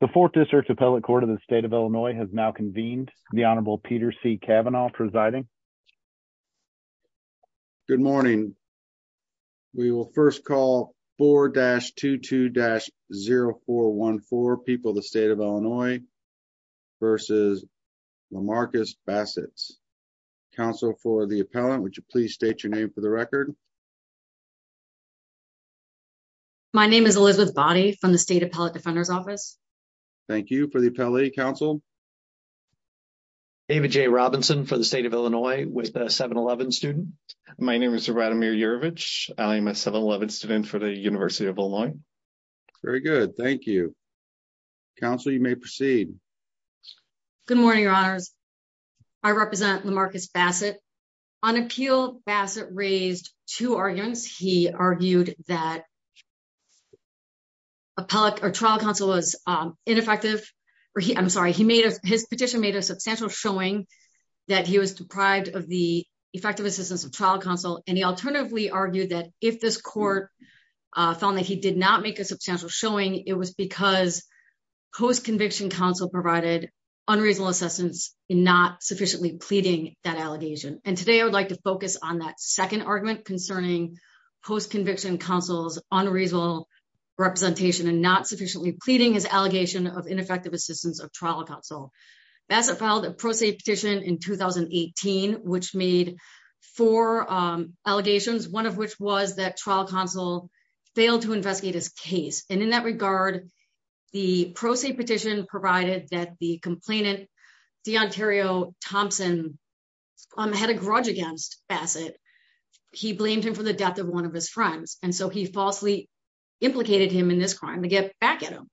the fourth district appellate court of the state of illinois has now convened the honorable peter c cavanaugh presiding good morning we will first call 4-22-0414 people the state of illinois versus lamarcus bassett's counsel for the appellant would you please state your name for the record my name is elizabeth boddy from the state appellate defender's office thank you for the appellate counsel david j robinson for the state of illinois with a 7-11 student my name is radamir urovich i'm a 7-11 student for the university of illinois very good thank you counsel you may proceed good morning your honors i represent the marcus bassett on appeal bassett raised two arguments he argued that appellate or trial counsel was um ineffective or he i'm sorry he made his petition made a substantial showing that he was deprived of the effective assistance of trial counsel and he alternatively argued that if this court uh found that he did not make a substantial showing it was because post-conviction counsel provided unreasonable assistance in not sufficiently pleading that allegation and today i would like to focus on that second argument concerning post-conviction counsel's unreasonable representation and not sufficiently pleading his allegation of ineffective assistance of trial counsel bassett filed a pro se petition in 2018 which made four um allegations one of which was that trial counsel failed to investigate his case and in that regard the pro se petition provided that the complainant deontario thompson um had a grudge against bassett he blamed him for the death of one of his friends and so he falsely implicated him in this crime to get back at him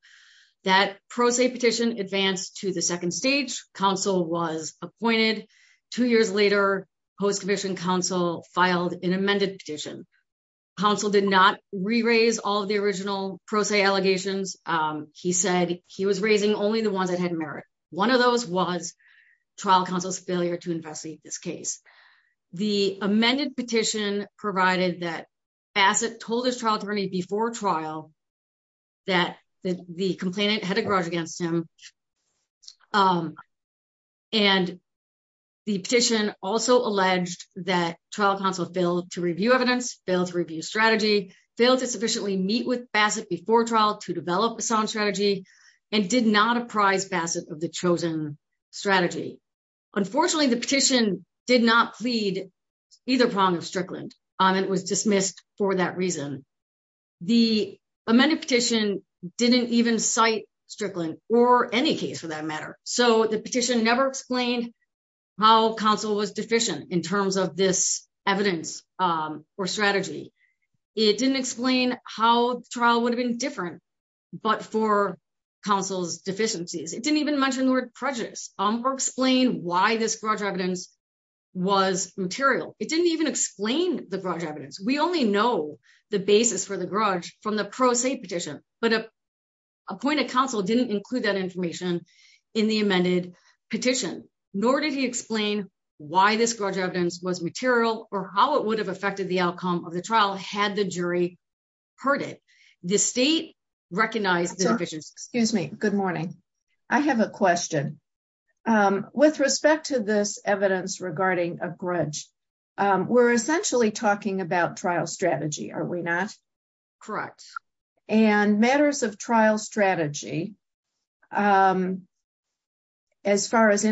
that pro se petition advanced to the second stage council was appointed two years later post-commission council filed an amended petition council did not re-raise all the original pro se allegations um he said he was raising only the ones that had merit one of those was trial counsel's failure to investigate this case the amended petition provided that bassett told his trial attorney before trial that the complainant had a grudge against him um and the petition also alleged that trial counsel failed to review evidence failed to review strategy failed to sufficiently meet with did not apprise bassett of the chosen strategy unfortunately the petition did not plead either prong of strickland um it was dismissed for that reason the amended petition didn't even cite strickland or any case for that matter so the petition never explained how council was deficient in terms of this evidence um or strategy it didn't explain how the trial would have been different but for council's deficiencies it didn't even mention the word prejudice um or explain why this grudge evidence was material it didn't even explain the grudge evidence we only know the basis for the grudge from the pro se petition but a appointed council didn't include that information in the amended petition nor did he explain why this grudge evidence was material or how it would have affected the outcome of the trial had the jury heard it the state recognized the decisions excuse me good morning i have a question um with respect to this evidence regarding a grudge um we're essentially talking about trial strategy are we not correct and matters of trial strategy um as far as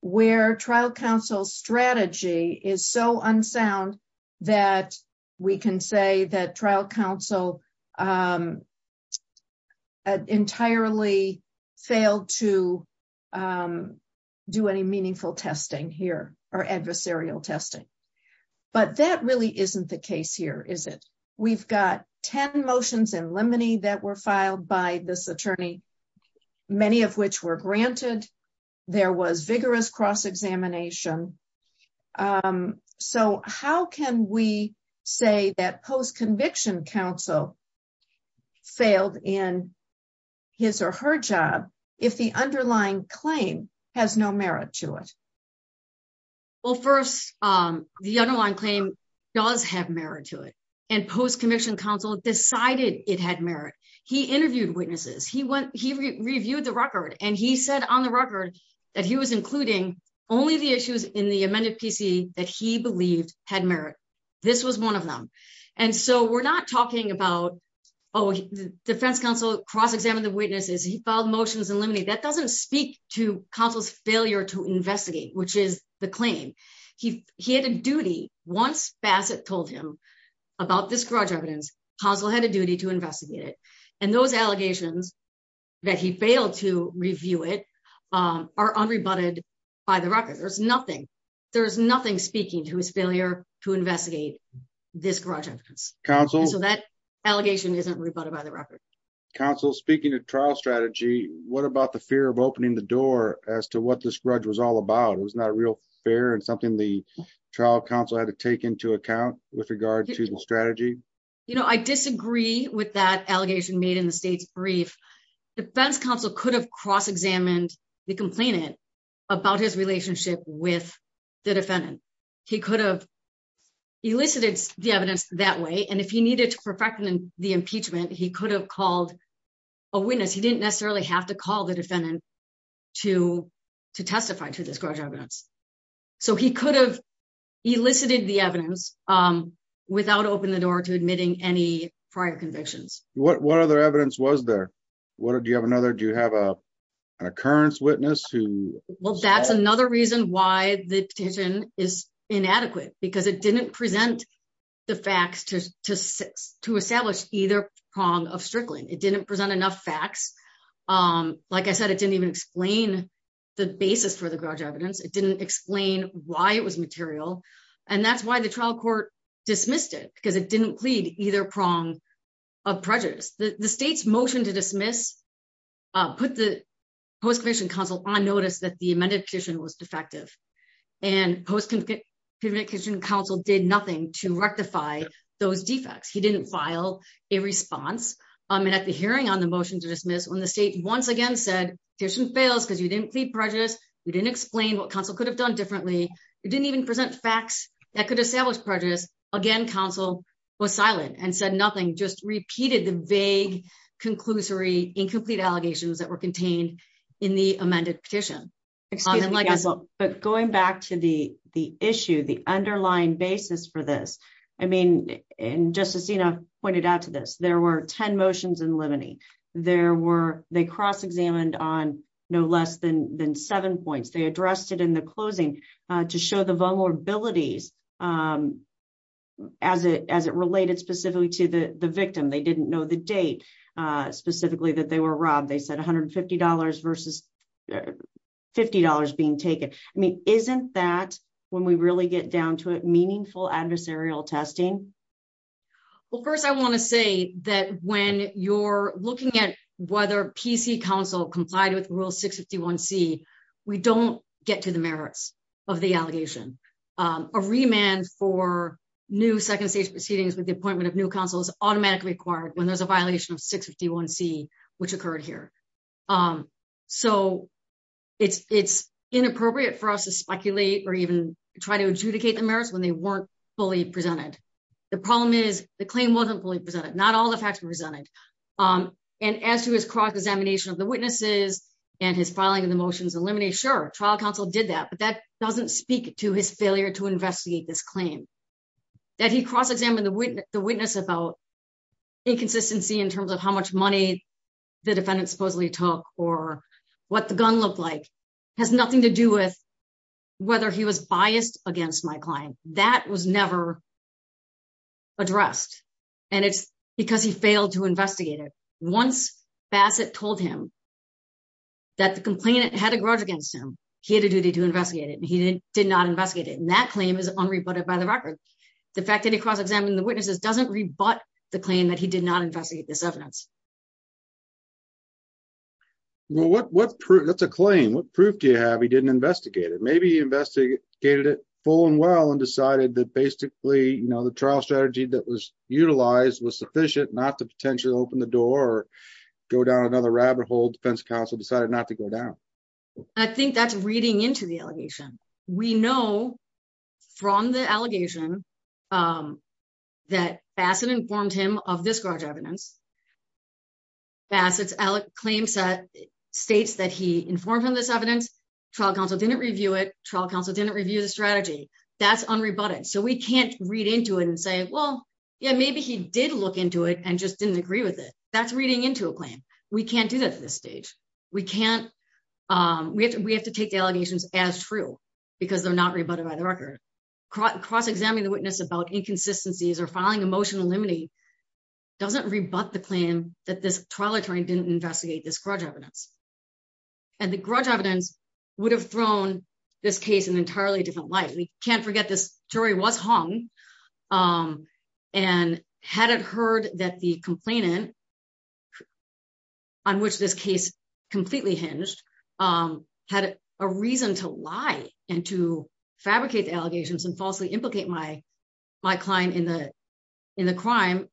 where trial council strategy is so unsound that we can say that trial council um entirely failed to um do any meaningful testing here or adversarial testing but that really isn't the case here is it we've got 10 motions in limine that were filed by this attorney many of which were granted there was vigorous cross-examination um so how can we say that post-conviction council failed in his or her job if the underlying claim has no merit to it well first um the underlying claim does have merit to it and post-conviction council decided it had merit he interviewed witnesses he went he reviewed the record and he said on the record that he was including only the issues in the amended pc that he believed had merit this was one of them and so we're not talking about oh the defense council cross-examined the witnesses he filed motions in limine that doesn't speak to council's failure to investigate which is the claim he he had a duty once bassett told him about this grudge evidence consul had a duty to investigate it and those allegations that he failed to review it um are unrebutted by the record there's nothing there's nothing speaking to his failure to investigate this grudge evidence council so that allegation isn't rebutted by the record council speaking of trial strategy what about the fear of opening the door as to what this grudge was all about it was not real fair and something the trial council had to take into account with regard to the strategy you know i disagree with that allegation made in the state's brief defense council could have cross-examined the complainant about his relationship with the defendant he could have elicited the evidence that way and if he needed to perfect the impeachment he could have called a witness he didn't necessarily have to call the defendant to to testify to this grudge evidence so he could have elicited the evidence um without opening the door to admitting any prior convictions what what other evidence was there what do you have another do you have a an occurrence witness who well that's another reason why the petition is inadequate because it didn't present the facts to to six to establish either prong of strickling it didn't present enough facts um like i said it didn't even explain the basis for the grudge evidence it didn't explain why it was material and that's why the trial court dismissed it because it didn't plead either prong of prejudice the the state's motion to dismiss uh put the post commission council on defective and post-conviction council did nothing to rectify those defects he didn't file a response um and at the hearing on the motion to dismiss when the state once again said petition fails because you didn't plead prejudice you didn't explain what council could have done differently you didn't even present facts that could establish prejudice again council was silent and said nothing just repeated the vague conclusory incomplete allegations that were contained in the but going back to the the issue the underlying basis for this i mean and justicina pointed out to this there were 10 motions in limine there were they cross-examined on no less than than seven points they addressed it in the closing uh to show the vulnerabilities um as it as it related specifically to the the victim they didn't know the date uh specifically that they were robbed they said 150 versus 50 being taken i mean isn't that when we really get down to it meaningful adversarial testing well first i want to say that when you're looking at whether pc council complied with rule 651c we don't get to the merits of the allegation um a remand for new second stage proceedings with the appointment of new council is automatically required when there's a violation of 651c which occurred here um so it's it's inappropriate for us to speculate or even try to adjudicate the merits when they weren't fully presented the problem is the claim wasn't fully presented not all the facts were presented um and as to his cross-examination of the witnesses and his filing of the motions eliminate sure trial counsel did that but that doesn't speak to his failure to investigate this claim that he cross-examined the witness the inconsistency in terms of how much money the defendant supposedly took or what the gun looked like has nothing to do with whether he was biased against my client that was never addressed and it's because he failed to investigate it once bassett told him that the complainant had a grudge against him he had a duty to investigate it and he didn't did not investigate it and that claim is unreported the fact that he cross-examined the witnesses doesn't rebut the claim that he did not investigate this evidence well what what proof that's a claim what proof do you have he didn't investigate it maybe he investigated it full and well and decided that basically you know the trial strategy that was utilized was sufficient not to potentially open the door or go down another rabbit hole defense counsel decided not to go down i think that's reading into the allegation we know from the allegation um that bassett informed him of this garage evidence bassett's claim set states that he informed on this evidence trial counsel didn't review it trial counsel didn't review the strategy that's unrebutted so we can't read into it and say well yeah maybe he did look into it and just didn't agree with it that's reading into a claim we can't do that at this stage we can't um we have to we have to take the allegations as true because they're not rebutted by the record cross-examining the witness about inconsistencies or filing emotional limity doesn't rebut the claim that this trial attorney didn't investigate this grudge evidence and the grudge evidence would have thrown this case an entirely different light we can't forget this jury was hung um and had it heard that the complainant who on which this case completely hinged um had a reason to lie and to fabricate the allegations and falsely implicate my my client in the in the crime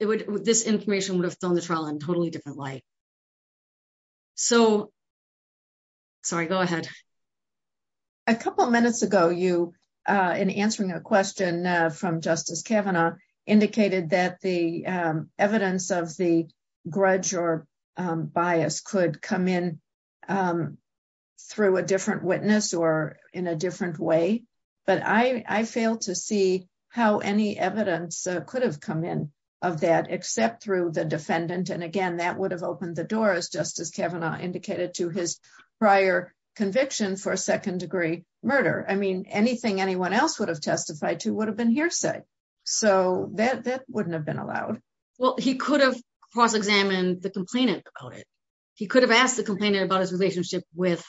it would this information would have thrown the trial in totally different light so sorry go ahead a couple minutes ago you uh in answering a of the grudge or um bias could come in um through a different witness or in a different way but i i failed to see how any evidence could have come in of that except through the defendant and again that would have opened the door as justice kavanaugh indicated to his prior conviction for a second degree murder i mean anything anyone else would have testified to would have been so that that wouldn't have been allowed well he could have cross-examined the complainant about it he could have asked the complainant about his relationship with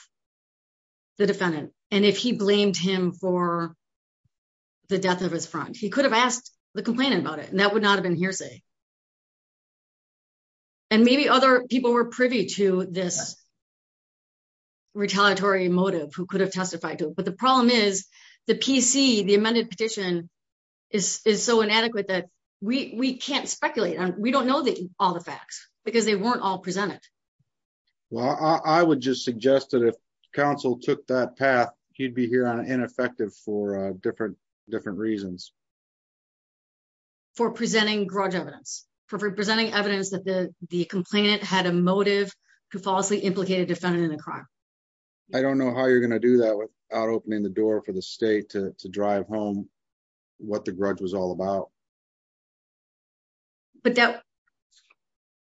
the defendant and if he blamed him for the death of his front he could have asked the complainant about it and that would not have been hearsay and maybe other people were privy to this retaliatory motive who could but the problem is the pc the amended petition is is so inadequate that we we can't speculate and we don't know that all the facts because they weren't all presented well i would just suggest that if council took that path he'd be here on ineffective for uh different different reasons for presenting grudge evidence for presenting evidence that the the complainant had a motive to falsely implicate a defendant in a crime i don't know how you're going to do that without opening the door for the state to drive home what the grudge was all about but that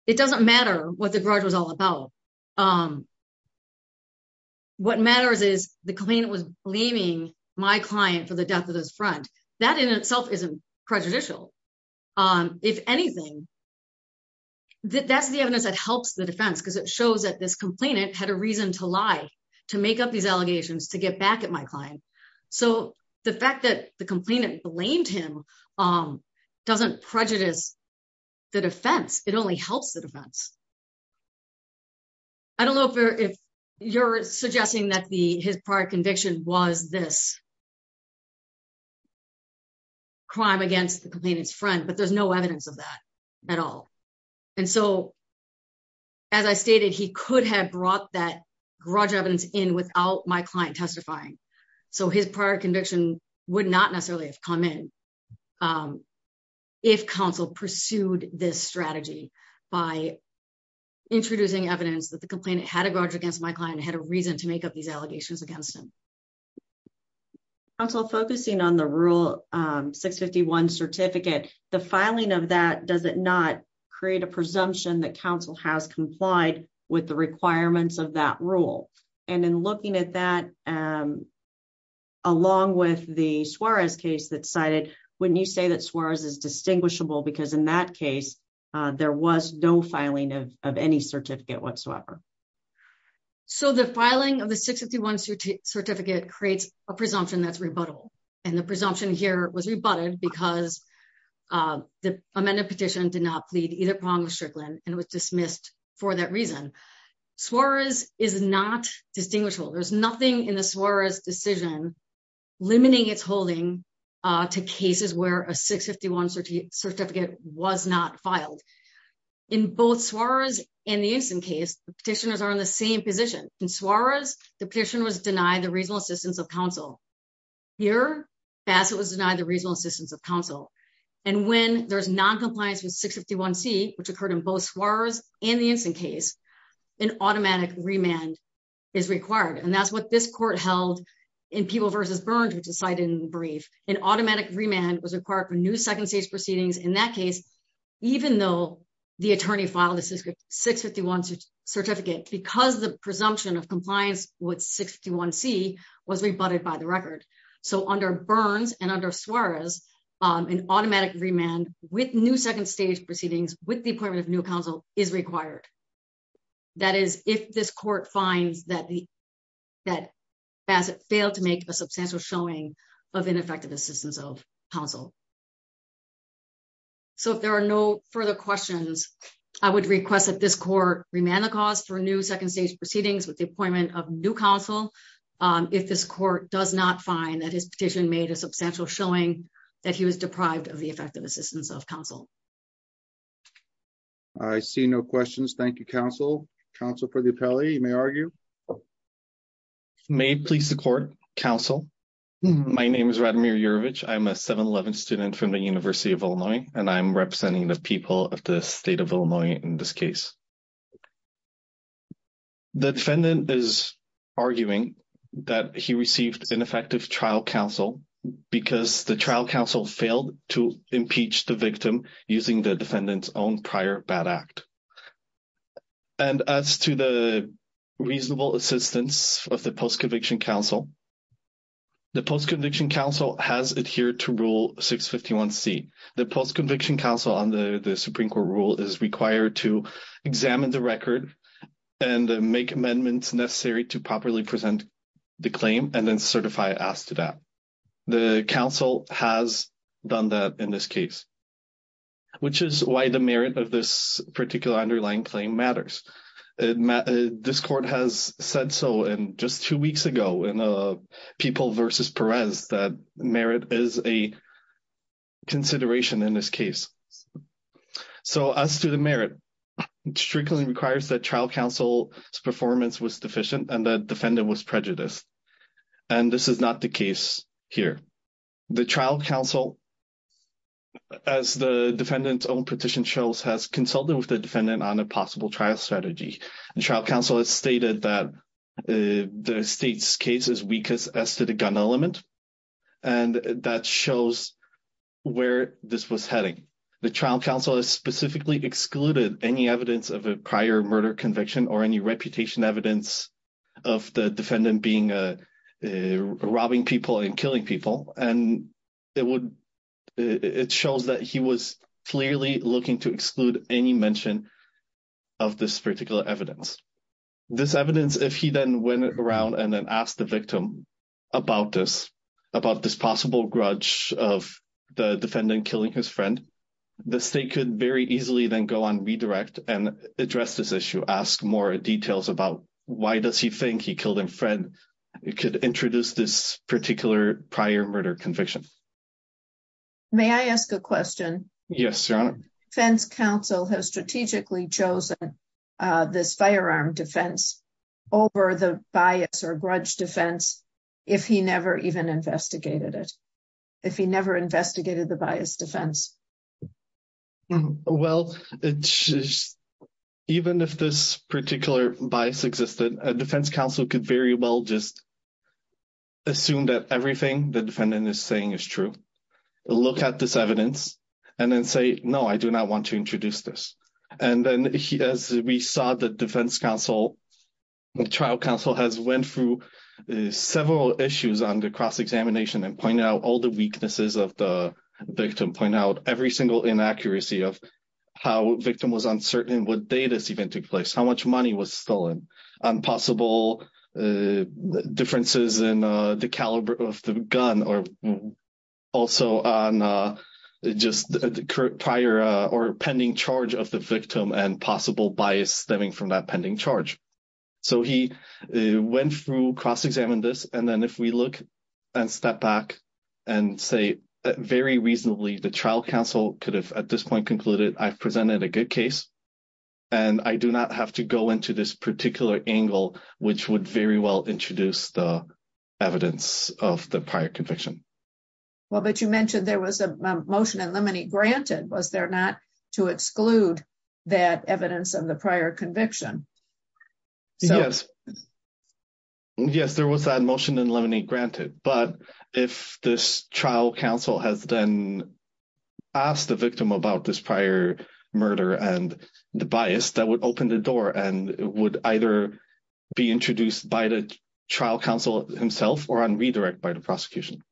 it doesn't matter what the grudge was all about um what matters is the claimant was blaming my client for the death of his friend that in itself isn't prejudicial um if anything that that's the evidence that helps the defense because it shows that this complainant had a reason to lie to make up these allegations to get back at my client so the fact that the complainant blamed him um doesn't prejudice the defense it only helps the defense i don't know if you're suggesting that the his prior conviction was this crime against the complainant's friend but there's no evidence of that at all and so as i stated he could have brought that grudge evidence in without my client testifying so his prior conviction would not necessarily have come in um if council pursued this strategy by introducing evidence that the complainant had a grudge against my client had a 651 certificate the filing of that does it not create a presumption that council has complied with the requirements of that rule and in looking at that um along with the suarez case that cited wouldn't you say that suarez is distinguishable because in that case uh there was no filing of any certificate whatsoever so the filing of the 651 certificate creates a presumption that's and the presumption here was rebutted because uh the amended petition did not plead either prong of strickland and was dismissed for that reason suarez is not distinguishable there's nothing in the suarez decision limiting its holding uh to cases where a 651 certificate was not filed in both suarez and the instant case the petitioners are in the same position in suarez the petition was denied the reasonable assistance of council here bassett was denied the reasonable assistance of council and when there's non-compliance with 651 c which occurred in both suarez and the instant case an automatic remand is required and that's what this court held in people versus burns which is cited in the brief an automatic remand was required for new second stage proceedings in that case even though the attorney filed the 651 certificate because the presumption of compliance with 61 c was rebutted by the record so under burns and under suarez um an automatic remand with new second stage proceedings with the appointment of new council is required that is if this court finds that the that bassett failed to make a substantial showing of ineffective assistance of council so if there are no further questions i would request that this court remand the cause for new second stage proceedings with the appointment of new council um if this court does not find that his petition made a substantial showing that he was deprived of the effective assistance of council i see no questions thank you council council for the appellee you may argue may please support council my name is radimir urovich i'm a 7-eleven student from the university of illinois and i'm representing the people of the state of illinois in this case the defendant is arguing that he received ineffective trial counsel because the trial council failed to impeach the victim using the defendant's own prior bad act and as to the reasonable assistance of the post-conviction council the post-conviction council has adhered to rule 651 c the post-conviction council under the supreme court rule is required to examine the record and make amendments necessary to properly present the claim and then certify asked to that the council has done that in this case which is why the merit of this particular underlying claim matters this court has said so in just two weeks ago in the people versus perez that merit is a consideration in this case so as to the merit strictly requires that trial council's performance was deficient and the defendant was prejudiced and this is not the case here the trial council as the defendant's own petition shows has consulted with the defendant on a possible trial strategy and trial council has stated that the state's case is weakest as to the gun element and that shows where this was heading the trial council has specifically excluded any evidence of a prior murder conviction or any reputation evidence of the defendant being a robbing people and killing people and it would it shows that he was clearly looking to exclude any mention of this particular evidence this evidence if he then went around and then asked the victim about this about this possible grudge of the defendant killing his friend the state could very easily then go on redirect and address this issue ask more details about why does he think he killed him friend it could introduce this particular prior murder conviction may i ask a question yes your honor fence council has strategically chosen uh this firearm defense over the bias or grudge defense if he never even investigated it if he never investigated the bias defense well it's just even if this particular bias existed a defense council could very well just assume that everything the defendant is saying is true look at this evidence and then no i do not want to introduce this and then he as we saw the defense council the trial council has went through several issues on the cross-examination and point out all the weaknesses of the victim point out every single inaccuracy of how victim was uncertain what data even took place how much prior or pending charge of the victim and possible bias stemming from that pending charge so he went through cross-examined this and then if we look and step back and say very reasonably the trial council could have at this point concluded i've presented a good case and i do not have to go into this particular angle which would very well introduce the evidence of the prior conviction well but you mentioned there was a motion in lemony granted was there not to exclude that evidence of the prior conviction yes yes there was that motion in lemony granted but if this trial council has then asked the victim about this prior murder and the bias that would open the door and would either be introduced by the trial council himself or on redirect by the prosecution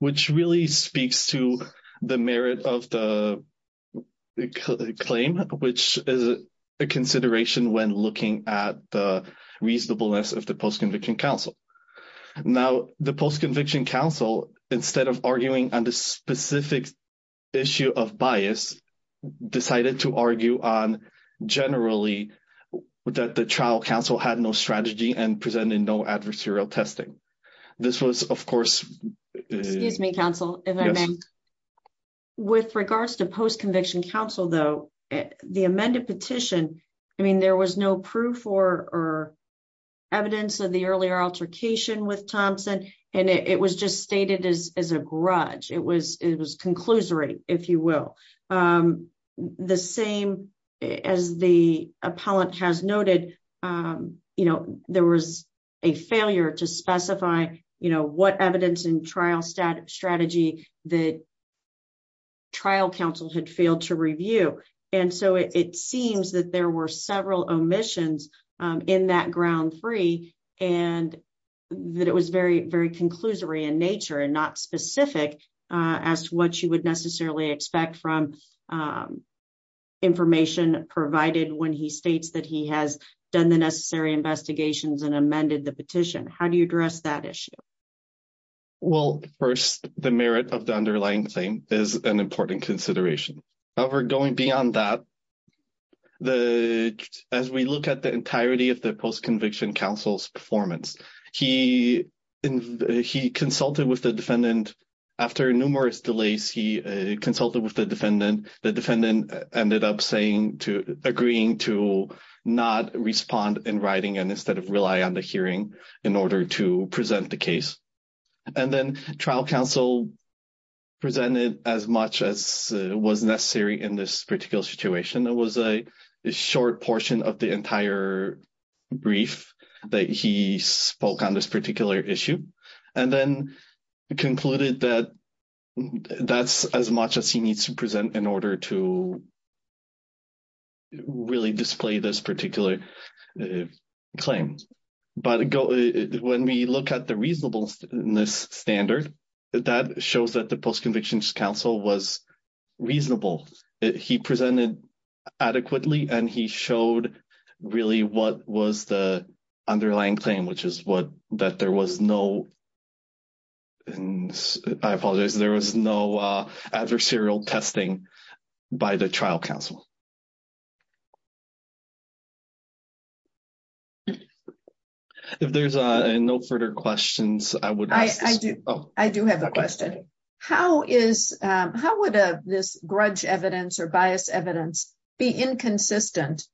which really speaks to the merit of the claim which is a consideration when looking at the reasonableness of the post-conviction council now the post-conviction council instead of arguing on the specific issue of bias decided to argue on generally that the trial council had no strategy and presenting no adversarial testing this was of course excuse me counsel with regards to post-conviction council though the amended petition i mean there was no proof or or evidence of the earlier altercation with thompson and it was just stated as as a grudge it was it was conclusory if you will um the same as the appellant has noted um you know there was a failure to specify you know what evidence in trial stat strategy that trial council had failed to review and so it seems that there were several omissions in that ground three and that it was very very conclusory in nature and not specific as to what you would necessarily expect from information provided when he states that he has done the necessary investigations and amended the petition how do you address that issue well first the merit of the underlying thing is an important consideration however going beyond that the as we look at the entirety of the post-conviction council's performance he he consulted with the defendant after numerous delays he consulted with the defendant the defendant ended up saying to agreeing to not respond in writing and instead of rely on the hearing in order to present the case and then trial council presented as much as was necessary in this particular situation it was a short portion of the entire brief that he spoke on this particular issue and then concluded that that's as much as he needs to present in order to really display this particular claim but when we look at the reasonableness standard that shows that the post-conviction council was reasonable he presented adequately and he showed really what was the underlying claim which is what that there was no and i apologize there was no adversarial testing by the trial council okay if there's uh no further questions i would i i do oh i do have a question how is um how would a this grudge evidence or bias evidence be inconsistent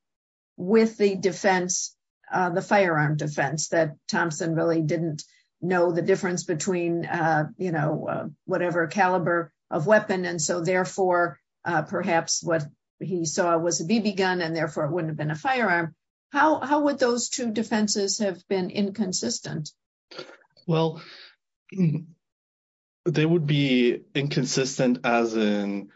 with the defense uh the firearm defense that thompson really didn't know the difference between uh you know whatever caliber of weapon and so therefore uh perhaps what he saw was a bb gun and therefore it wouldn't have been a firearm how how would those two defenses have been inconsistent well they would be inconsistent as in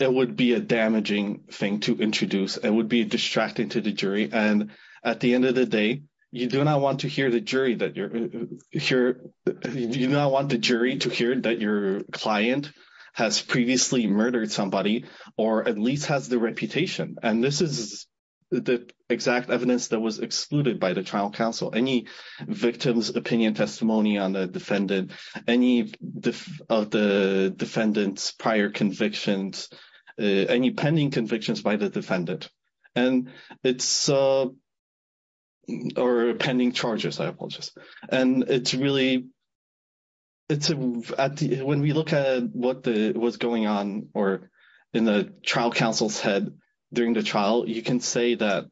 it would be a damaging thing to introduce it would be distracting to the jury and at the end of the day you do not want to hear the jury that you're here you do not want the jury to hear that your client has previously murdered somebody or at least has the reputation and this is the exact evidence that was excluded by the trial council any victims opinion testimony on the defendant any of the defendant's prior convictions any pending convictions by the defendant and it's uh or pending charges i apologize and it's really it's a when we look at what the what's going on or in the trial council's head during the trial you can say that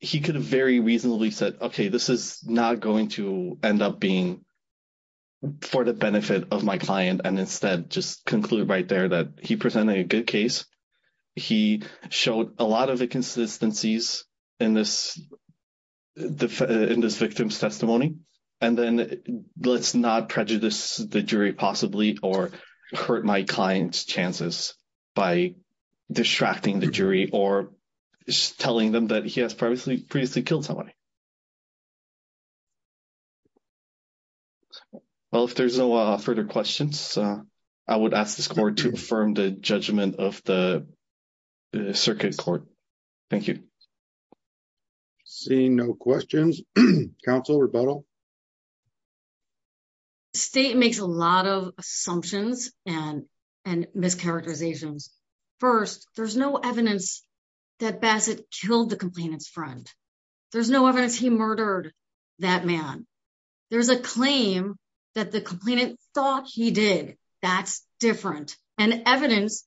he could very reasonably said okay this is not going to end up being for the benefit of my client and instead just conclude right there that he presented a good case he showed a lot of inconsistencies in this in this victim's testimony and then let's not prejudice the jury possibly or hurt my client's chances by distracting the jury or just telling them that he has previously previously killed somebody well if there's no uh further questions i would ask this court to affirm the judgment of the circuit court thank you seeing no questions council rebuttal state makes a lot of assumptions and and mischaracterizations first there's no evidence that bassett killed the complainant's friend there's no evidence he murdered that man there's a claim that the complainant thought he did that's different and evidence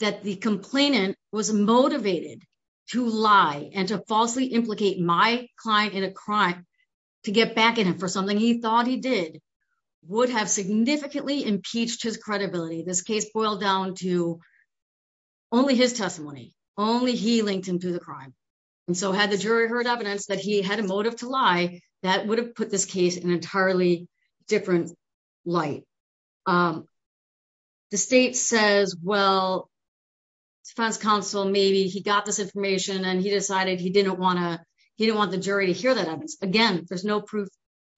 that the complainant was motivated to lie and to falsely implicate my client in a crime to get back at him for something he thought he did would have significantly impeached his credibility this testimony only he linked him to the crime and so had the jury heard evidence that he had a motive to lie that would have put this case in entirely different light um the state says well defense counsel maybe he got this information and he decided he didn't want to he didn't want the jury to hear that evidence again there's no proof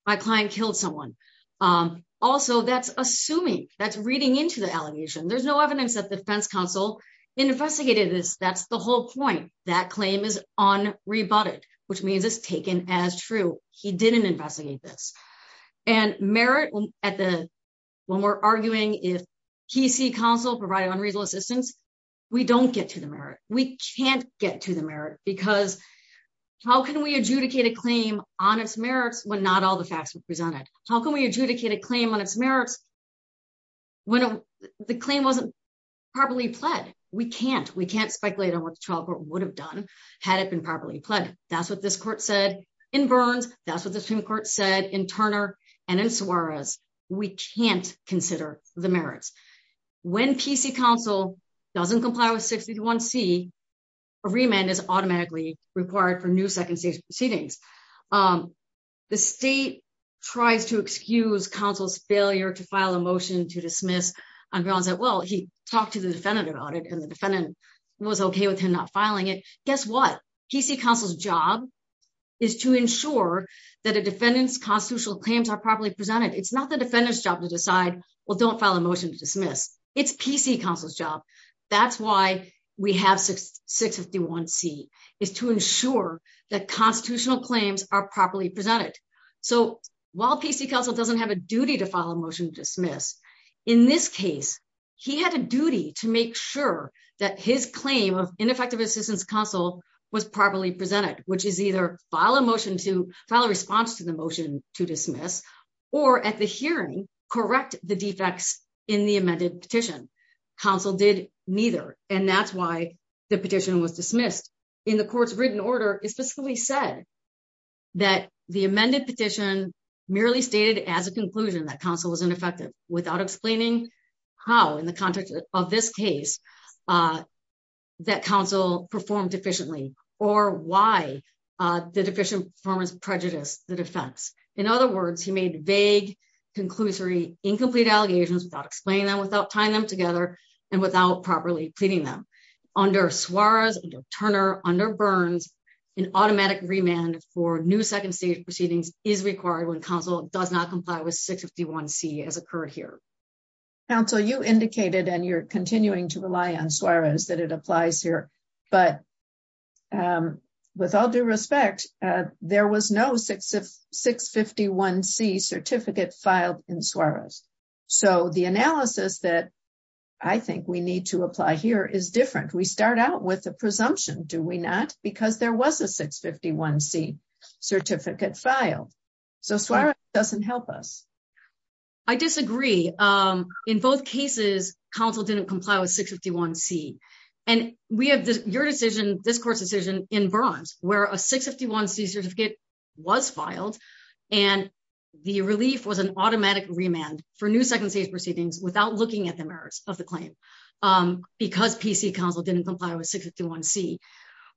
my client killed someone um also that's assuming that's reading into the allegation there's no evidence that defense counsel investigated this that's the whole point that claim is unrebutted which means it's taken as true he didn't investigate this and merit at the when we're arguing if kesey counsel provided unreasonable assistance we don't get to the merit we can't get to the merit because how can we adjudicate a claim on its merits when not all the facts were presented how can we adjudicate a claim on its merits when the claim wasn't properly pled we can't we can't speculate on what the trial court would have done had it been properly pled that's what this court said in burns that's what the supreme court said in turner and in suarez we can't consider the merits when pc counsel doesn't comply with 61c a remand is automatically required for new second stage proceedings um the state tries to excuse counsel's failure to file a motion to dismiss on grounds that well he talked to the defendant about it and the defendant was okay with him not filing it guess what pc counsel's job is to ensure that a defendant's constitutional claims are properly presented it's not the defendant's job to decide well don't file a motion to dismiss it's pc counsel's job that's why we have 651c is to ensure that constitutional claims are properly presented so while pc counsel doesn't have a duty to file a motion to dismiss in this case he had a duty to make sure that his claim of ineffective assistance counsel was properly presented which is either file a motion to file a response to the motion to dismiss or at the hearing correct the defects in the amended petition counsel did neither and that's why the petition was dismissed in the court's written order it specifically said that the amended petition merely stated as a conclusion that counsel was ineffective without explaining how in the context of this case uh that counsel performed efficiently or why uh the deficient performance prejudice the defense in other words he made vague conclusory incomplete allegations without explaining them without tying them together and without properly pleading them under suarez and turner under burns an automatic remand for new second stage proceedings is required when counsel does not comply with 651c as occurred here counsel you indicated and you're continuing to rely on suarez that it applies here but um with all due respect uh there was no 651c certificate filed in suarez so the analysis that i think we need to apply here is different we start out with the presumption do we not because there was a 651c certificate filed so suarez doesn't help us i disagree um in both cases counsel didn't comply with 651c and we have this your decision this court's decision in bronze where a 651c certificate was filed and the relief was an automatic remand for new second stage proceedings without looking at the merits of the claim um because pc council didn't comply with 651c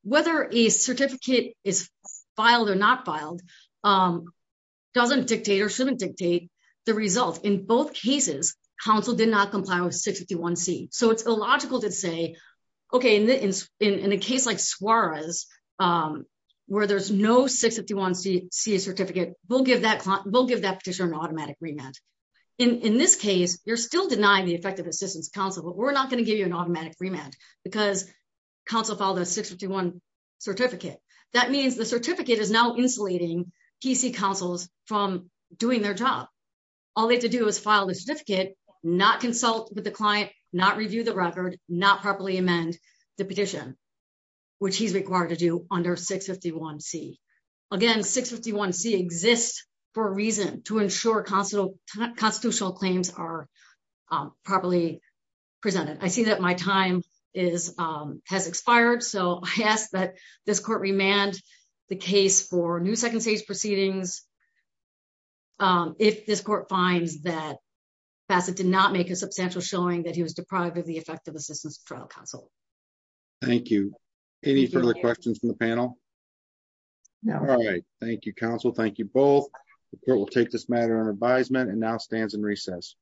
whether a certificate is filed or not filed um doesn't dictate or shouldn't dictate the result in both cases counsel did not comply with 651c so it's illogical to say okay in the in in a case like suarez um where there's no 651c certificate we'll give that we'll give that petitioner an automatic remand in in this case you're still denying the effective assistance counsel but we're not going to give you an automatic remand because counsel filed a 651 certificate that means the certificate is now insulating pc councils from doing their job all they have to do is file the certificate not consult with the client not review the record not properly amend the petition which he's required to do under 651c again 651c exists for a reason to ensure constant constitutional claims are properly presented i see that my time is um has expired so i ask that this court remand the case for new second stage proceedings um if this court finds that facet did not make a substantial showing that he was deprived of the effective assistance trial counsel thank you any further questions from the panel no all right thank you counsel thank you both the court will take this matter on advisement and now stands in recess